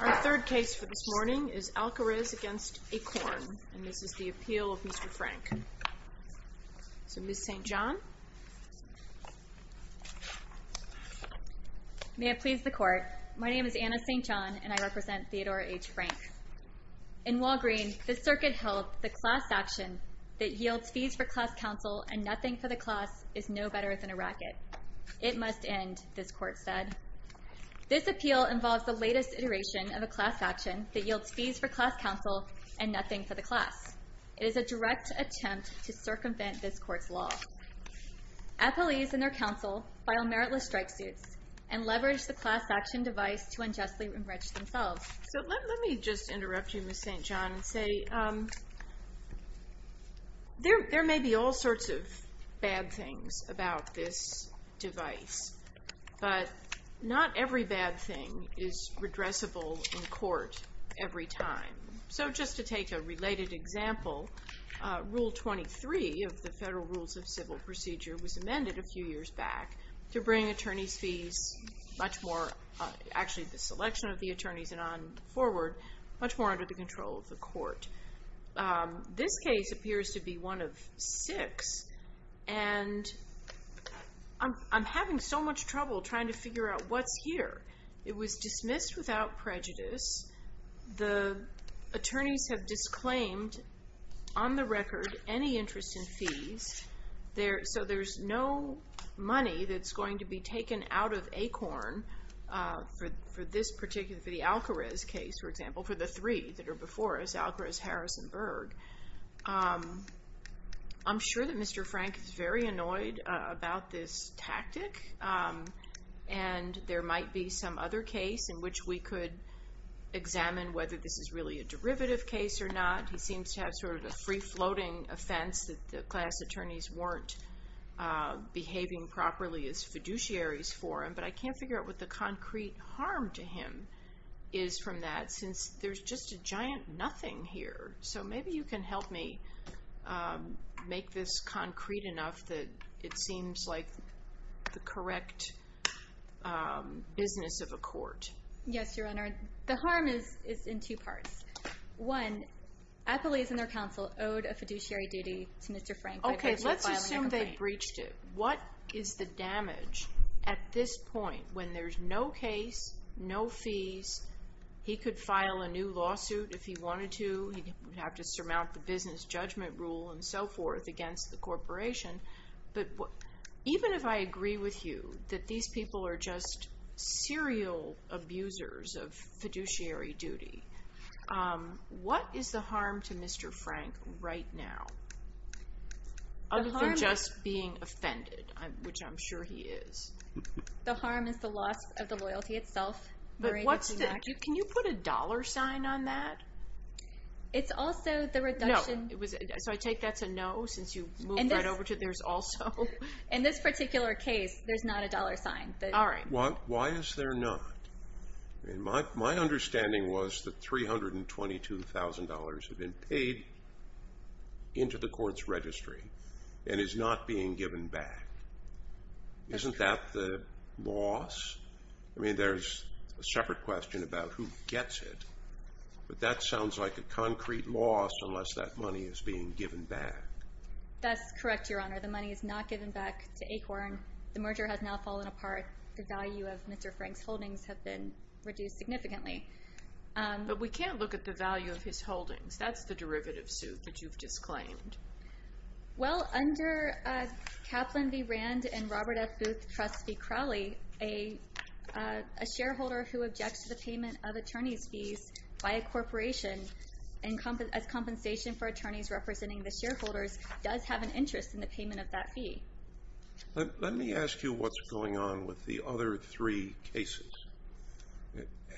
Our third case for this morning is Alcarez v. Akorn, and this is the appeal of Mr. Frank. So, Ms. St. John. May it please the court. My name is Anna St. John, and I represent Theodora H. Frank. In Walgreen, the circuit held the class action that yields fees for class counsel and nothing for the class is no better than a racket. It must end, this court said. This appeal involves the latest iteration of a class action that yields fees for class counsel and nothing for the class. It is a direct attempt to circumvent this court's law. Appellees and their counsel file meritless strike suits and leverage the class action device to unjustly enrich themselves. So let me just interrupt you, Ms. St. John, and say there may be all sorts of bad things about this device, but not every bad thing is redressable in court every time. So just to take a related example, Rule 23 of the Federal Rules of Civil Procedure was amended a few years back to bring attorneys' fees, actually the selection of the attorneys and on forward, much more under the control of the court. This case appears to be one of six, and I'm having so much trouble trying to figure out what's here. It was dismissed without prejudice. The attorneys have disclaimed on the record any interest in fees, so there's no money that's going to be taken out of ACORN for this particular, for the Alcarez case, for example, for the three that are before us, Alcarez, Harris, and Berg. I'm sure that Mr. Frank is very annoyed about this tactic, and there might be some other case in which we could examine whether this is really a derivative case or not. He seems to have sort of a free-floating offense that the class attorneys weren't behaving properly as fiduciaries for him, but I can't figure out what the concrete harm to him is from that since there's just a giant nothing here. So maybe you can help me make this concrete enough that it seems like the correct business of a court. Yes, Your Honor. The harm is in two parts. One, appellees and their counsel owed a fiduciary duty to Mr. Frank by virtue of filing a complaint. What is the damage at this point when there's no case, no fees, he could file a new lawsuit if he wanted to, he would have to surmount the business judgment rule and so forth against the corporation, but even if I agree with you that these people are just serial abusers of fiduciary duty, what is the harm to Mr. Frank right now? Other than just being offended, which I'm sure he is. The harm is the loss of the loyalty itself. Can you put a dollar sign on that? It's also the reduction. So I take that's a no since you moved right over to there's also. In this particular case, there's not a dollar sign. All right. Why is there not? My understanding was that $322,000 had been paid into the court's registry and is not being given back. Isn't that the loss? I mean, there's a separate question about who gets it, but that sounds like a concrete loss unless that money is being given back. That's correct, Your Honor. The money is not given back to Acorn. The merger has now fallen apart. The value of Mr. Frank's holdings have been reduced significantly. But we can't look at the value of his holdings. That's the derivative suit that you've disclaimed. Well, under Kaplan v. Rand and Robert F. Booth Trust v. Crowley, a shareholder who objects to the payment of attorney's fees by a corporation as compensation for attorneys representing the shareholders does have an interest in the payment of that fee. Let me ask you what's going on with the other three cases.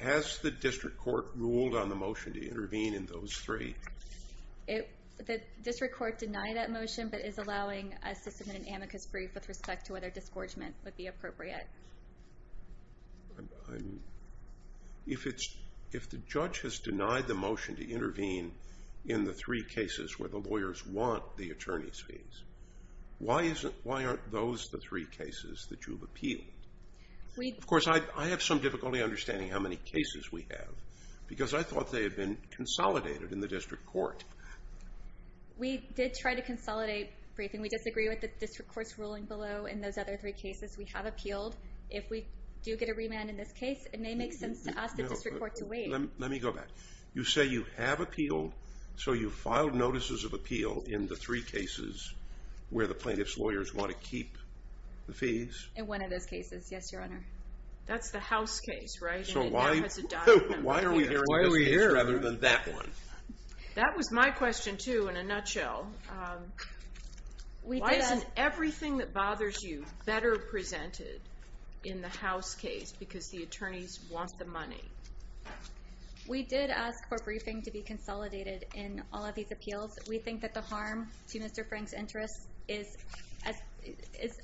Has the district court ruled on the motion to intervene in those three? The district court denied that motion, but is allowing us to submit an amicus brief with respect to whether disgorgement would be appropriate. If the judge has denied the motion to intervene in the three cases where the lawyers want the attorney's fees, why aren't those the three cases that you've appealed? Of course, I have some difficulty understanding how many cases we have because I thought they had been consolidated in the district court. We did try to consolidate briefing. We disagree with the district court's ruling below in those other three cases we have appealed. If we do get a remand in this case, it may make sense to ask the district court to wait. Let me go back. You say you have appealed, so you filed notices of appeal in the three cases where the plaintiff's lawyers want to keep the fees? In one of those cases, yes, Your Honor. That's the House case, right? Why are we hearing this case rather than that one? That was my question, too, in a nutshell. Why isn't everything that bothers you better presented in the House case because the attorneys want the money? We did ask for briefing to be consolidated in all of these appeals. We think that the harm to Mr. Frank's interests is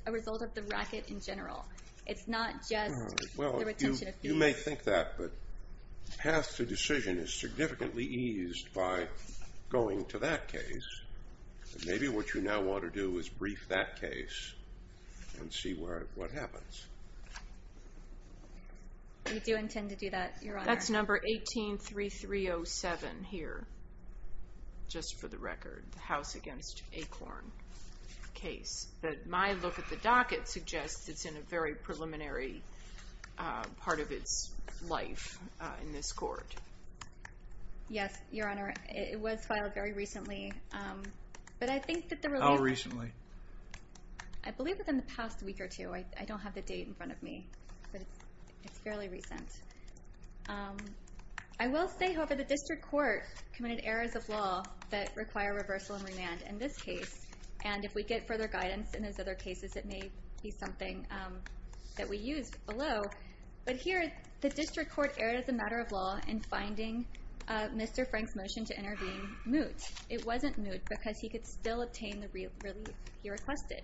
a result of the racket in general. It's not just the retention of fees. You may think that, but the path to decision is significantly eased by going to that case. Maybe what you now want to do is brief that case and see what happens. We do intend to do that, Your Honor. That's number 18-3307 here, just for the record, the House v. Acorn case. But my look at the docket suggests it's in a very preliminary part of its life in this court. Yes, Your Honor. It was filed very recently. How recently? I believe within the past week or two. I don't have the date in front of me, but it's fairly recent. I will say, however, the district court committed errors of law that require reversal and remand in this case. And if we get further guidance in those other cases, it may be something that we use below. But here, the district court erred as a matter of law in finding Mr. Frank's motion to intervene moot. It wasn't moot because he could still obtain the relief he requested.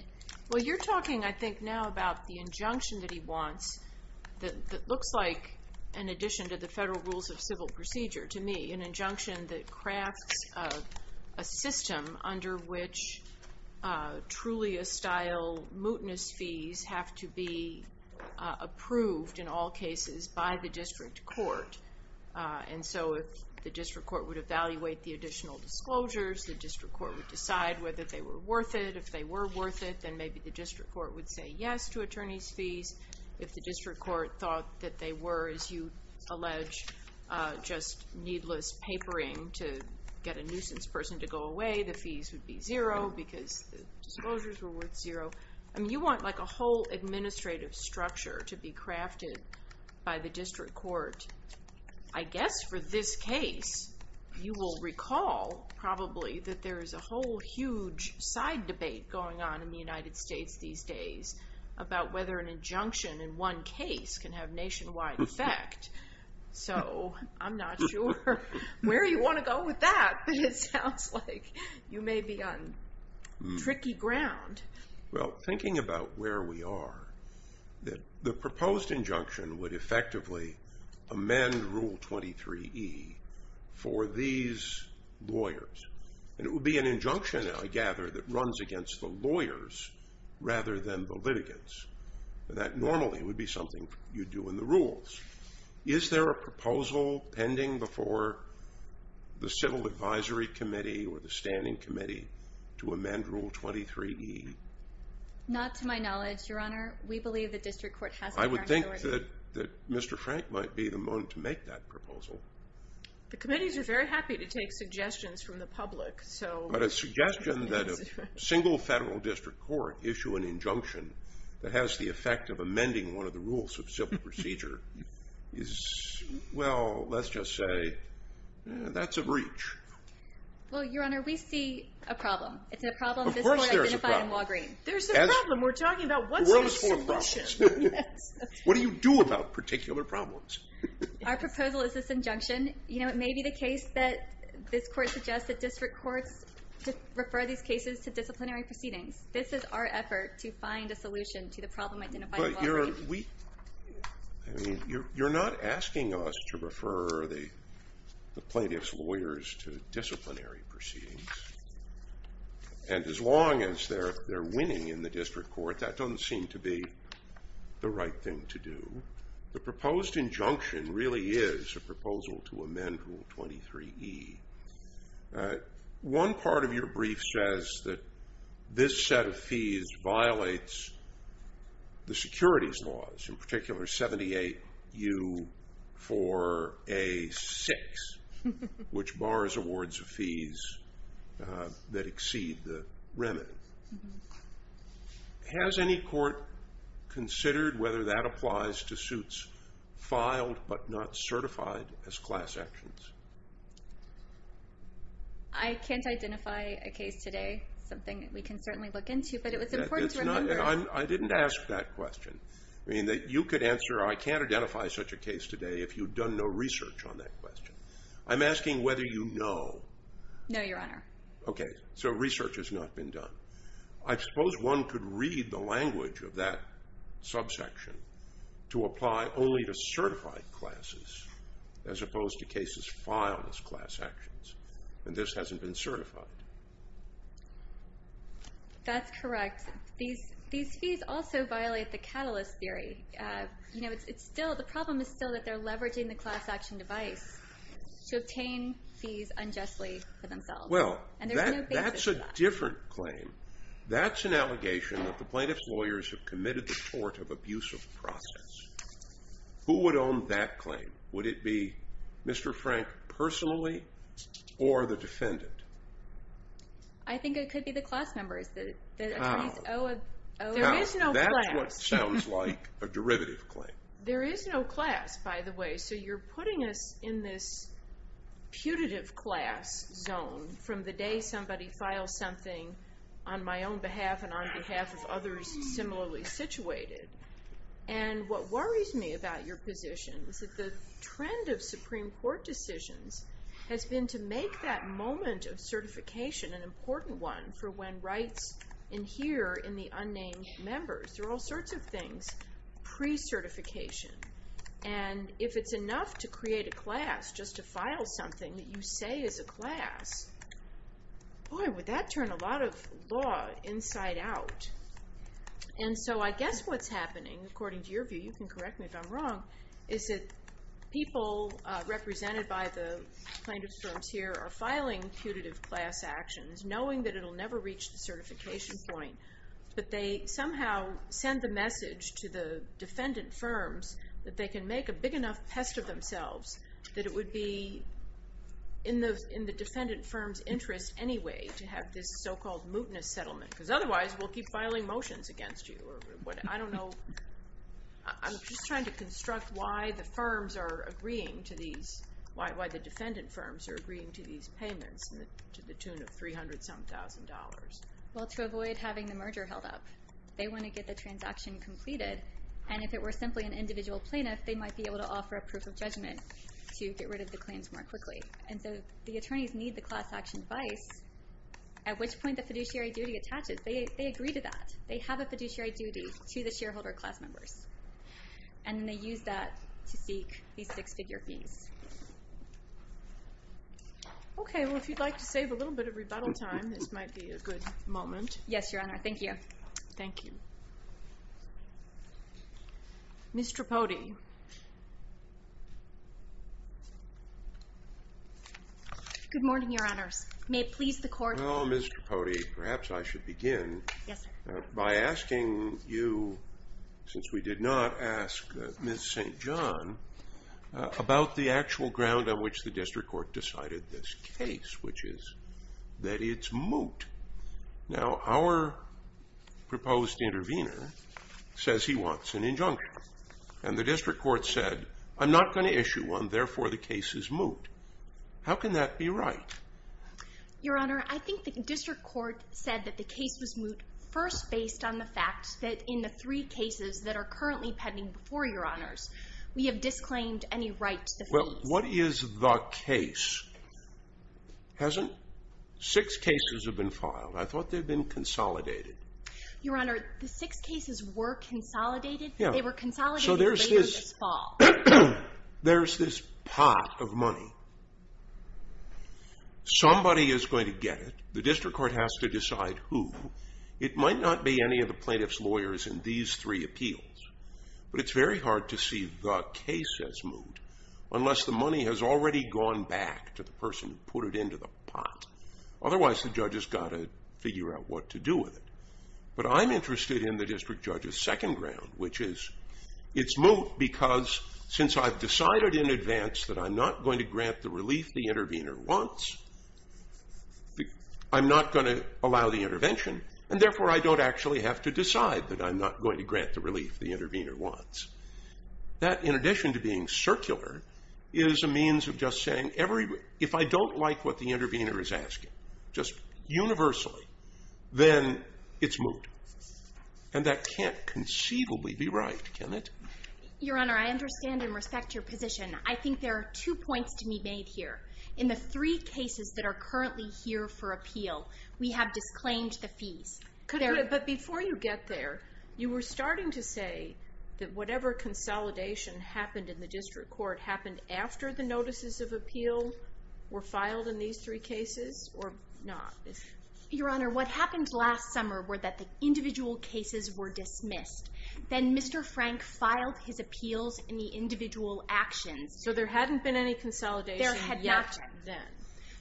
Well, you're talking, I think, now about the injunction that he wants that looks like, in addition to the federal rules of civil procedure to me, an injunction that crafts a system under which truly estile mootness fees have to be approved in all cases by the district court. And so if the district court would evaluate the additional disclosures, the district court would decide whether they were worth it. If they were worth it, then maybe the district court would say yes to attorney's fees. If the district court thought that they were, as you allege, just needless papering to get a nuisance person to go away, the fees would be zero because the disclosures were worth zero. I mean, you want a whole administrative structure to be crafted by the district court. I guess for this case, you will recall probably that there is a whole huge side debate going on in the United States these days about whether an injunction in one case can have nationwide effect. So I'm not sure where you want to go with that, but it sounds like you may be on tricky ground. Well, thinking about where we are, the proposed injunction would effectively amend Rule 23E for these lawyers. And it would be an injunction, I gather, that runs against the lawyers rather than the litigants. That normally would be something you do in the rules. Is there a proposal pending before the Civil Advisory Committee or the Standing Committee to amend Rule 23E? Not to my knowledge, Your Honor. We believe the district court has the authority. I would think that Mr. Frank might be the one to make that proposal. The committees are very happy to take suggestions from the public. But a suggestion that a single federal district court issue an injunction that has the effect of amending one of the rules of civil procedure is, well, let's just say that's a breach. Well, Your Honor, we see a problem. Of course there's a problem. There's a problem. We're talking about what's the solution. What do you do about particular problems? Our proposal is this injunction. You know, it may be the case that this court suggests that district courts refer these cases to disciplinary proceedings. This is our effort to find a solution to the problem identified in Walgreens. Your Honor, you're not asking us to refer the plaintiff's lawyers to disciplinary proceedings. And as long as they're winning in the district court, that doesn't seem to be the right thing to do. The proposed injunction really is a proposal to amend Rule 23E. One part of your brief says that this set of fees violates the securities laws, in particular 78U4A6, which bars awards of fees that exceed the remit. Has any court considered whether that applies to suits filed but not certified as class actions? I can't identify a case today, something that we can certainly look into, but it was important to remember. I didn't ask that question. You could answer, I can't identify such a case today if you've done no research on that question. I'm asking whether you know. No, Your Honor. Okay, so research has not been done. I suppose one could read the language of that subsection to apply only to certified classes, as opposed to cases filed as class actions, and this hasn't been certified. That's correct. These fees also violate the catalyst theory. The problem is still that they're leveraging the class action device to obtain fees unjustly for themselves. Well, that's a different claim. That's an allegation that the plaintiff's lawyers have committed the tort of abusive process. Who would own that claim? Would it be Mr. Frank personally or the defendant? I think it could be the class members. That's what sounds like a derivative claim. There is no class, by the way. So you're putting us in this putative class zone from the day somebody files something on my own behalf and on behalf of others similarly situated. And what worries me about your position is that the trend of Supreme Court decisions has been to make that moment of certification an important one for when rights adhere in the unnamed members. There are all sorts of things pre-certification. And if it's enough to create a class just to file something that you say is a class, boy, would that turn a lot of law inside out. And so I guess what's happening, according to your view, you can correct me if I'm wrong, is that people represented by the plaintiff's firms here are filing putative class actions, knowing that it will never reach the certification point. But they somehow send the message to the defendant firms that they can make a big enough pest of themselves that it would be in the defendant firm's interest anyway to have this so-called mootness settlement, because otherwise we'll keep filing motions against you. I don't know. I'm just trying to construct why the firms are agreeing to these, why the defendant firms are agreeing to these payments to the tune of $300-some-thousand. Well, to avoid having the merger held up. They want to get the transaction completed. And if it were simply an individual plaintiff, they might be able to offer a proof of judgment to get rid of the claims more quickly. And so the attorneys need the class action device, at which point the fiduciary duty attaches. They agree to that. They have a fiduciary duty to the shareholder class members. And they use that to seek these six-figure fees. Okay. Well, if you'd like to save a little bit of rebuttal time, this might be a good moment. Yes, Your Honor. Thank you. Thank you. Ms. Trapodi. Good morning, Your Honors. May it please the Court. Well, Ms. Trapodi, perhaps I should begin by asking you, since we did not ask Ms. St. John, about the actual ground on which the district court decided this case, which is that it's moot. Now, our proposed intervener says he wants an injunction. And the district court said, I'm not going to issue one. Therefore, the case is moot. How can that be right? Your Honor, I think the district court said that the case was moot, first based on the fact that in the three cases that are currently pending before Your Honors, we have disclaimed any right to the fees. Well, what is the case? Hasn't six cases been filed? I thought they'd been consolidated. Your Honor, the six cases were consolidated. They were consolidated later this fall. So there's this pot of money. Somebody is going to get it. The district court has to decide who. It might not be any of the plaintiff's lawyers in these three appeals. But it's very hard to see the case as moot, unless the money has already gone back to the person who put it into the pot. Otherwise, the judge has got to figure out what to do with it. But I'm interested in the district judge's second ground, which is it's moot because since I've decided in advance that I'm not going to grant the relief the intervener wants, I'm not going to allow the intervention. And therefore, I don't actually have to decide that I'm not going to grant the relief the intervener wants. That, in addition to being circular, is a means of just saying if I don't like what the intervener is asking, just universally, then it's moot. And that can't conceivably be right, can it? Your Honor, I understand and respect your position. I think there are two points to be made here. In the three cases that are currently here for appeal, we have disclaimed the fees. But before you get there, you were starting to say that whatever consolidation happened in the district court happened after the notices of appeal were filed in these three cases or not? Your Honor, what happened last summer were that the individual cases were dismissed. Then Mr. Frank filed his appeals in the individual actions. So there hadn't been any consolidation yet then?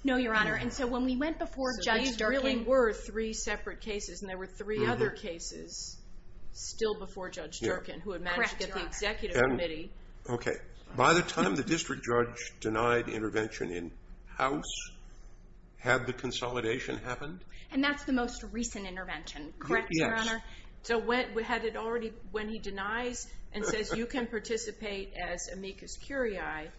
No, Your Honor. And so when we went before Judge Durkin. So these really were three separate cases, and there were three other cases still before Judge Durkin, who had managed to get the executive committee. Okay. By the time the district judge denied intervention in house, had the consolidation happened? And that's the most recent intervention, correct, Your Honor? Yes. So when he denies and says you can participate as amicus curiae,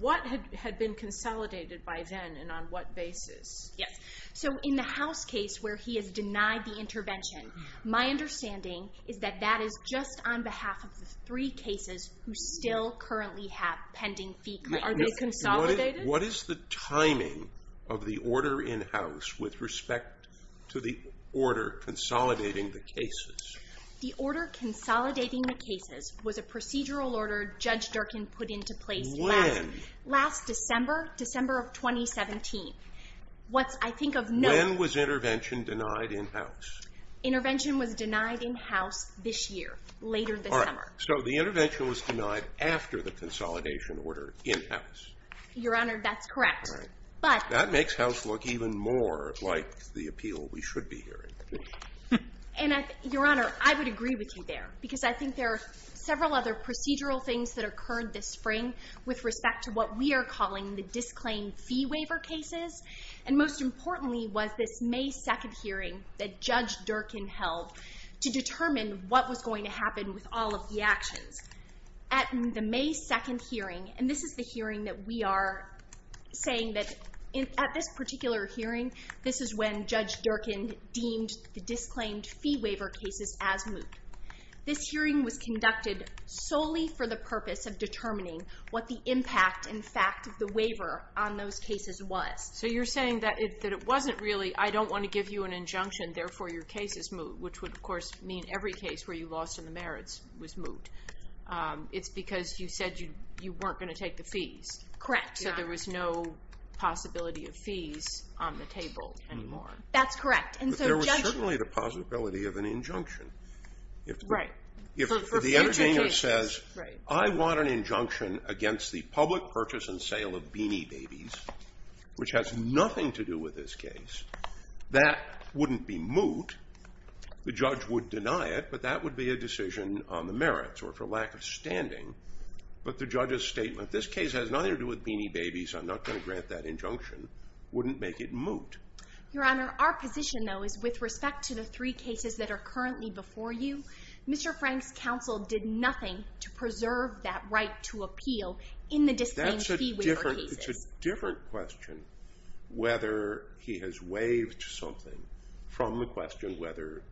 what had been consolidated by then and on what basis? Yes. So in the house case where he has denied the intervention, my understanding is that that is just on behalf of the three cases who still currently have pending fee claims. Are they consolidated? What is the timing of the order in house with respect to the order consolidating the cases? The order consolidating the cases was a procedural order Judge Durkin put into place. When? Last December, December of 2017. When was intervention denied in house? Intervention was denied in house this year, later this summer. So the intervention was denied after the consolidation order in house. Your Honor, that's correct. But. That makes house look even more like the appeal we should be hearing. And, Your Honor, I would agree with you there, because I think there are several other procedural things that occurred this spring with respect to what we are calling the disclaim fee waiver cases, and most importantly was this May 2 hearing that Judge Durkin held to determine what was going to happen with all of the actions. At the May 2 hearing, and this is the hearing that we are saying that at this particular hearing, this is when Judge Durkin deemed the disclaimed fee waiver cases as moot. This hearing was conducted solely for the purpose of determining what the impact and fact of the waiver on those cases was. So you're saying that it wasn't really, I don't want to give you an injunction, therefore your case is moot, which would, of course, mean every case where you lost in the merits was moot. It's because you said you weren't going to take the fees. Correct. So there was no possibility of fees on the table anymore. That's correct. But there was certainly the possibility of an injunction. Right. If the entertainer says, I want an injunction against the public purchase and sale of Beanie Babies, which has nothing to do with this case, that wouldn't be moot. The judge would deny it, but that would be a decision on the merits or for lack of standing. But the judge's statement, this case has nothing to do with Beanie Babies, I'm not going to grant that injunction, wouldn't make it moot. Your Honor, our position, though, is with respect to the three cases that are currently before you, Mr. Frank's counsel did nothing to preserve that right to appeal in the disclaimed fee waiver cases. That's a different question, whether he has waived something, from the question whether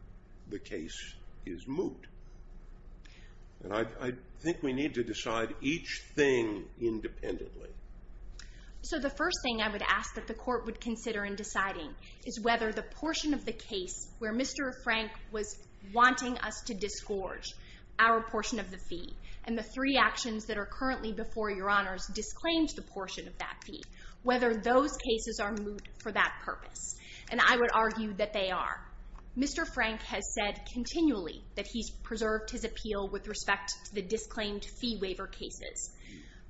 the case is moot. And I think we need to decide each thing independently. So the first thing I would ask that the Court would consider in deciding is whether the portion of the case where Mr. Frank was wanting us to disgorge our portion of the fee and the three actions that are currently before Your Honor's disclaimed portion of that fee, whether those cases are moot for that purpose. And I would argue that they are. Mr. Frank has said continually that he's preserved his appeal with respect to the disclaimed fee waiver cases.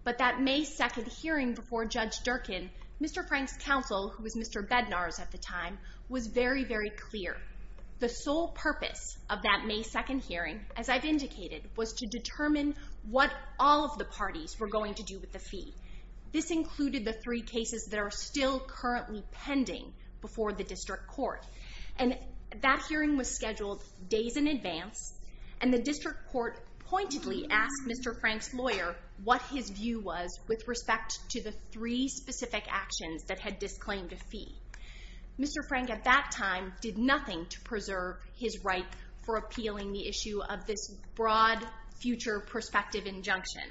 But that May 2nd hearing before Judge Durkin, Mr. Frank's counsel, who was Mr. Bednar's at the time, was very, very clear. The sole purpose of that May 2nd hearing, as I've indicated, was to determine what all of the parties were going to do with the fee. This included the three cases that are still currently pending before the District Court. And that hearing was scheduled days in advance, and the District Court pointedly asked Mr. Frank's lawyer what his view was with respect to the three specific actions that had disclaimed a fee. Mr. Frank at that time did nothing to preserve his right for appealing the issue of this broad future perspective injunction.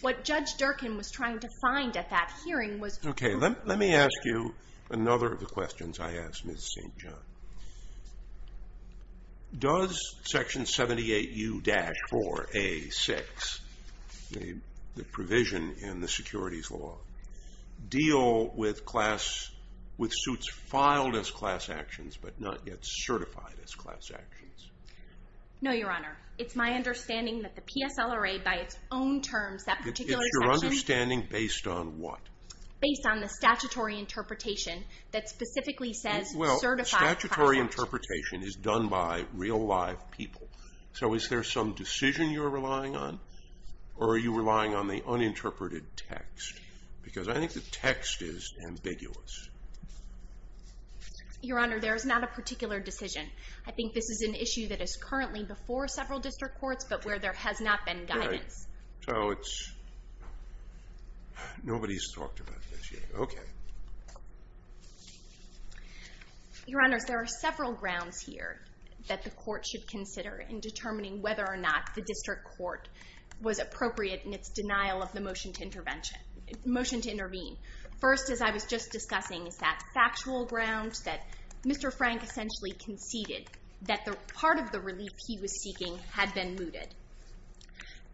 What Judge Durkin was trying to find at that hearing was... Okay, let me ask you another of the questions I asked Ms. St. John. Does Section 78U-4A6, the provision in the Securities Law, deal with suits filed as class actions but not yet certified as class actions? No, Your Honor. It's my understanding that the PSLRA by its own terms... It's your understanding based on what? Based on the statutory interpretation that specifically says... Well, statutory interpretation is done by real live people. So is there some decision you're relying on, or are you relying on the uninterpreted text? Because I think the text is ambiguous. Your Honor, there is not a particular decision. I think this is an issue that is currently before several District Courts but where there has not been guidance. So it's... Nobody's talked about this yet. Okay. Your Honor, there are several grounds here that the Court should consider in determining whether or not the District Court was appropriate in its denial of the motion to intervene. First, as I was just discussing, is that factual ground that Mr. Frank essentially conceded that part of the relief he was seeking had been mooted.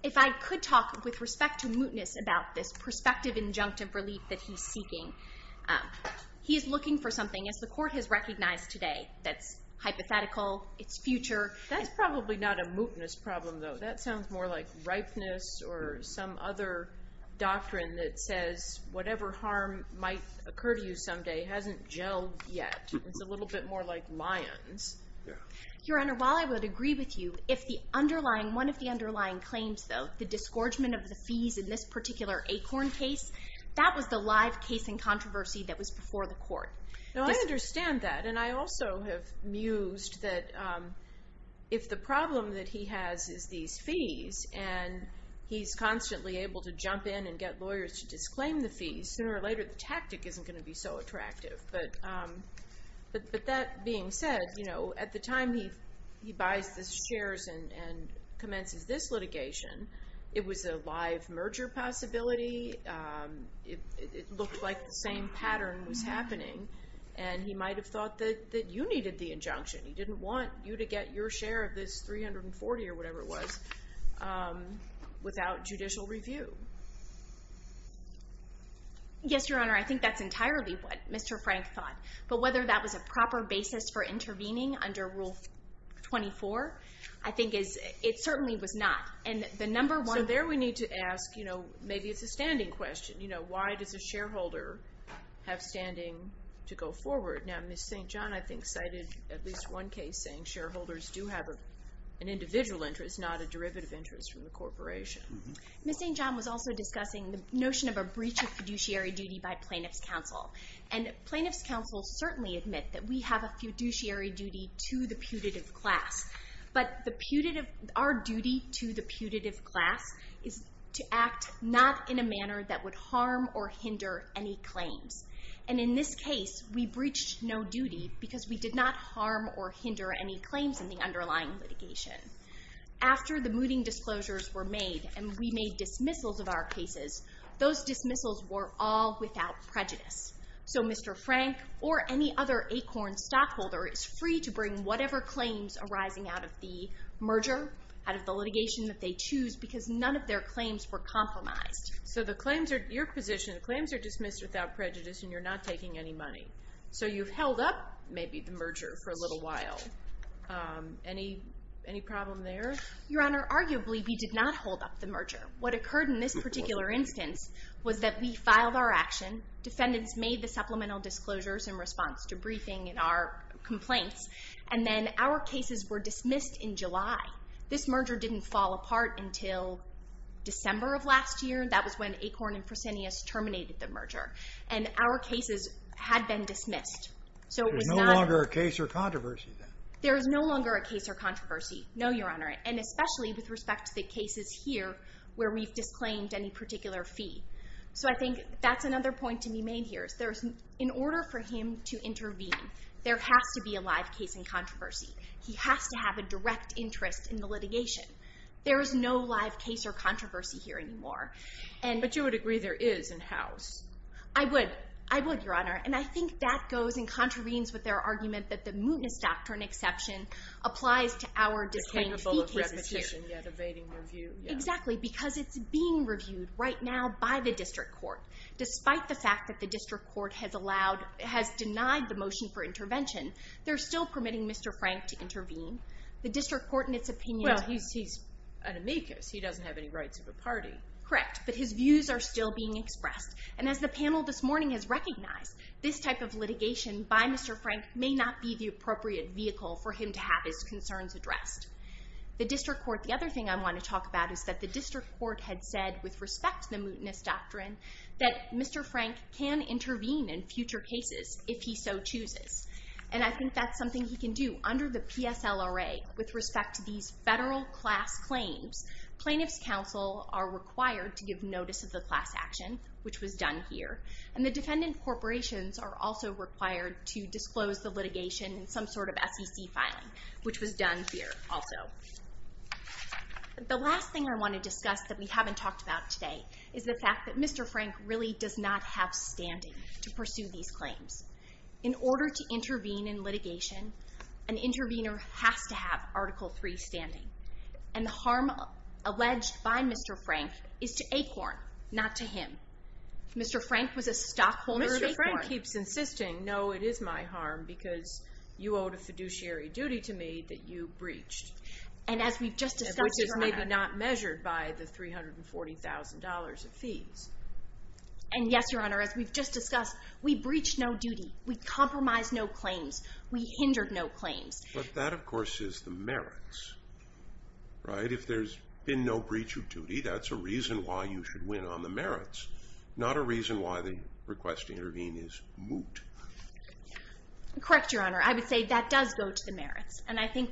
If I could talk with respect to mootness about this prospective injunctive relief that he's seeking... He's looking for something, as the Court has recognized today, that's hypothetical, it's future... That's probably not a mootness problem, though. That sounds more like ripeness or some other doctrine that says whatever harm might occur to you someday hasn't gelled yet. It's a little bit more like lions. Your Honor, while I would agree with you, if the underlying... One of the underlying claims, though, the disgorgement of the fees in this particular Acorn case, that was the live case in controversy that was before the Court. Now, I understand that. And I also have mused that if the problem that he has is these fees and he's constantly able to jump in and get lawyers to disclaim the fees, sooner or later the tactic isn't going to be so attractive. But that being said, at the time he buys the shares and commences this litigation, it was a live merger possibility. It looked like the same pattern was happening. And he might have thought that you needed the injunction. He didn't want you to get your share of this $340 or whatever it was without judicial review. Yes, Your Honor, I think that's entirely what Mr. Frank thought. But whether that was a proper basis for intervening under Rule 24, I think it certainly was not. So there we need to ask, maybe it's a standing question. Why does a shareholder have standing to go forward? Now, Ms. St. John, I think, cited at least one case saying shareholders do have an individual interest, not a derivative interest from the corporation. Ms. St. John was also discussing the notion of a breach of fiduciary duty by plaintiff's counsel. And plaintiff's counsel certainly admit that we have a fiduciary duty to the putative class. But our duty to the putative class is to act not in a manner that would harm or hinder any claims. And in this case, we breached no duty because we did not harm or hinder any claims in the underlying litigation. After the mooting disclosures were made and we made dismissals of our cases, those dismissals were all without prejudice. So Mr. Frank or any other ACORN stockholder is free to bring whatever claims arising out of the merger, out of the litigation that they choose, because none of their claims were compromised. So your position, the claims are dismissed without prejudice and you're not taking any money. So you've held up maybe the merger for a little while. Any problem there? Your Honor, arguably we did not hold up the merger. What occurred in this particular instance was that we filed our action, defendants made the supplemental disclosures in response to briefing in our complaints, and then our cases were dismissed in July. This merger didn't fall apart until December of last year. That was when ACORN and Fresenius terminated the merger. And our cases had been dismissed. There's no longer a case or controversy then? There is no longer a case or controversy, no, Your Honor, and especially with respect to the cases here where we've disclaimed any particular fee. So I think that's another point to be made here. In order for him to intervene, there has to be a live case in controversy. He has to have a direct interest in the litigation. There is no live case or controversy here anymore. But you would agree there is in-house? I would, I would, Your Honor. And I think that goes and contravenes with their argument that the mootness doctrine exception applies to our disclaimed fee cases here. They're capable of repetition yet evading review. Exactly, because it's being reviewed right now by the district court. Despite the fact that the district court has denied the motion for intervention, they're still permitting Mr. Frank to intervene. The district court, in its opinion, Well, he's an amicus. He doesn't have any rights of a party. Correct, but his views are still being expressed. And as the panel this morning has recognized, this type of litigation by Mr. Frank may not be the appropriate vehicle for him to have his concerns addressed. The other thing I want to talk about is that the district court had said, with respect to the mootness doctrine, that Mr. Frank can intervene in future cases if he so chooses. And I think that's something he can do. Under the PSLRA, with respect to these federal class claims, plaintiffs' counsel are required to give notice of the class action, which was done here. And the defendant corporations are also required to disclose the litigation in some sort of SEC filing, which was done here also. The last thing I want to discuss that we haven't talked about today is the fact that Mr. Frank really does not have standing to pursue these claims. In order to intervene in litigation, an intervener has to have Article III standing. And the harm alleged by Mr. Frank is to Acorn, not to him. Mr. Frank was a stockholder of Acorn. Mr. Frank keeps insisting, no, it is my harm because you owed a fiduciary duty to me that you breached. And as we've just discussed, Your Honor. Which is maybe not measured by the $340,000 of fees. And yes, Your Honor, as we've just discussed, we breached no duty. We compromised no claims. We hindered no claims. But that, of course, is the merits. Right? If there's been no breach of duty, that's a reason why you should win on the merits. Not a reason why the request to intervene is moot. Correct, Your Honor. I would say that does go to the merits. And I think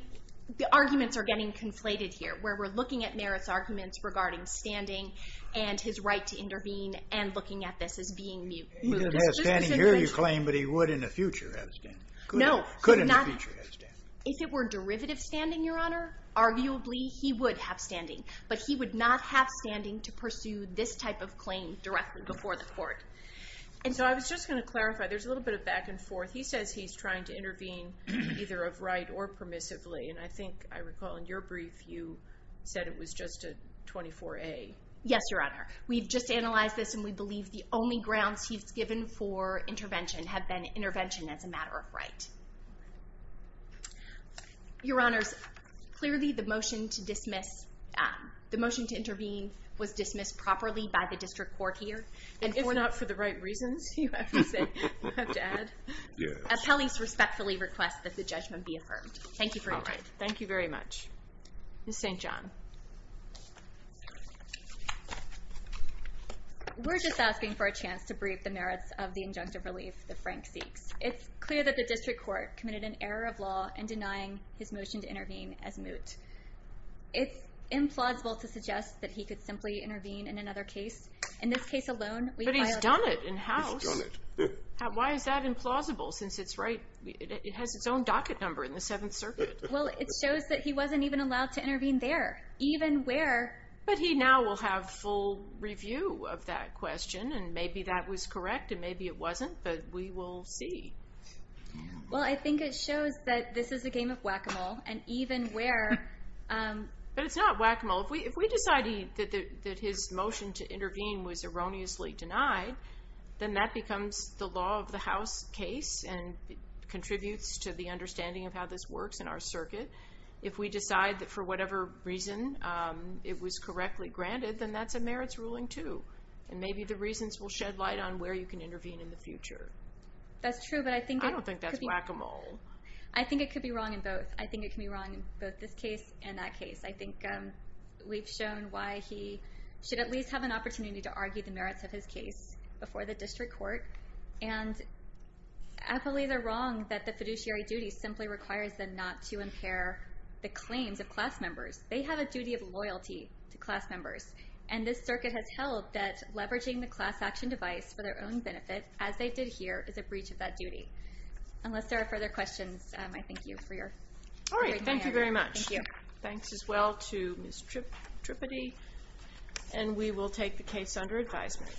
the arguments are getting conflated here, where we're looking at merits arguments regarding standing and his right to intervene and looking at this as being moot. He doesn't have standing here, you claim, but he would in the future have standing. No, he's not. Could in the future have standing. If it were derivative standing, Your Honor, arguably he would have standing. But he would not have standing to pursue this type of claim directly before the court. And so I was just going to clarify, there's a little bit of back and forth. He says he's trying to intervene either of right or permissively. And I think I recall in your brief you said it was just a 24A. Yes, Your Honor. We've just analyzed this and we believe the only grounds he's given for intervention have been intervention as a matter of right. Your Honors, clearly the motion to intervene was dismissed properly by the district court here. If we're not for the right reasons, you have to add. Appellees respectfully request that the judgment be affirmed. Thank you for your time. Thank you very much. Ms. St. John. We're just asking for a chance to brief the merits of the injunctive relief that Frank seeks. It's clear that the district court committed an error of law in denying his motion to intervene as moot. It's implausible to suggest that he could simply intervene in another case. In this case alone, we've violated it. But he's done it in-house. He's done it. Why is that implausible since it has its own docket number in the Seventh Circuit? Well, it shows that he wasn't even allowed to intervene there, even where... But he now will have full review of that question and maybe that was correct and maybe it wasn't, but we will see. Well, I think it shows that this is a game of whack-a-mole and even where... But it's not whack-a-mole. If we decide that his motion to intervene was erroneously denied, then that becomes the law of the house case and contributes to the understanding of how this works in our circuit. If we decide that for whatever reason it was correctly granted, then that's a merits ruling too. And maybe the reasons will shed light on where you can intervene in the future. That's true, but I think... I don't think that's whack-a-mole. I think it could be wrong in both. I think it can be wrong in both this case and that case. I think we've shown why he should at least have an opportunity to argue the merits of his case before the district court. And I believe they're wrong that the fiduciary duty simply requires them not to impair the claims of class members. They have a duty of loyalty to class members. And this circuit has held that leveraging the class action device for their own benefit, as they did here, is a breach of that duty. Unless there are further questions, I thank you for your... All right. Thank you very much. Thank you. Thanks as well to Ms. Trippity. And we will take the case under advisement.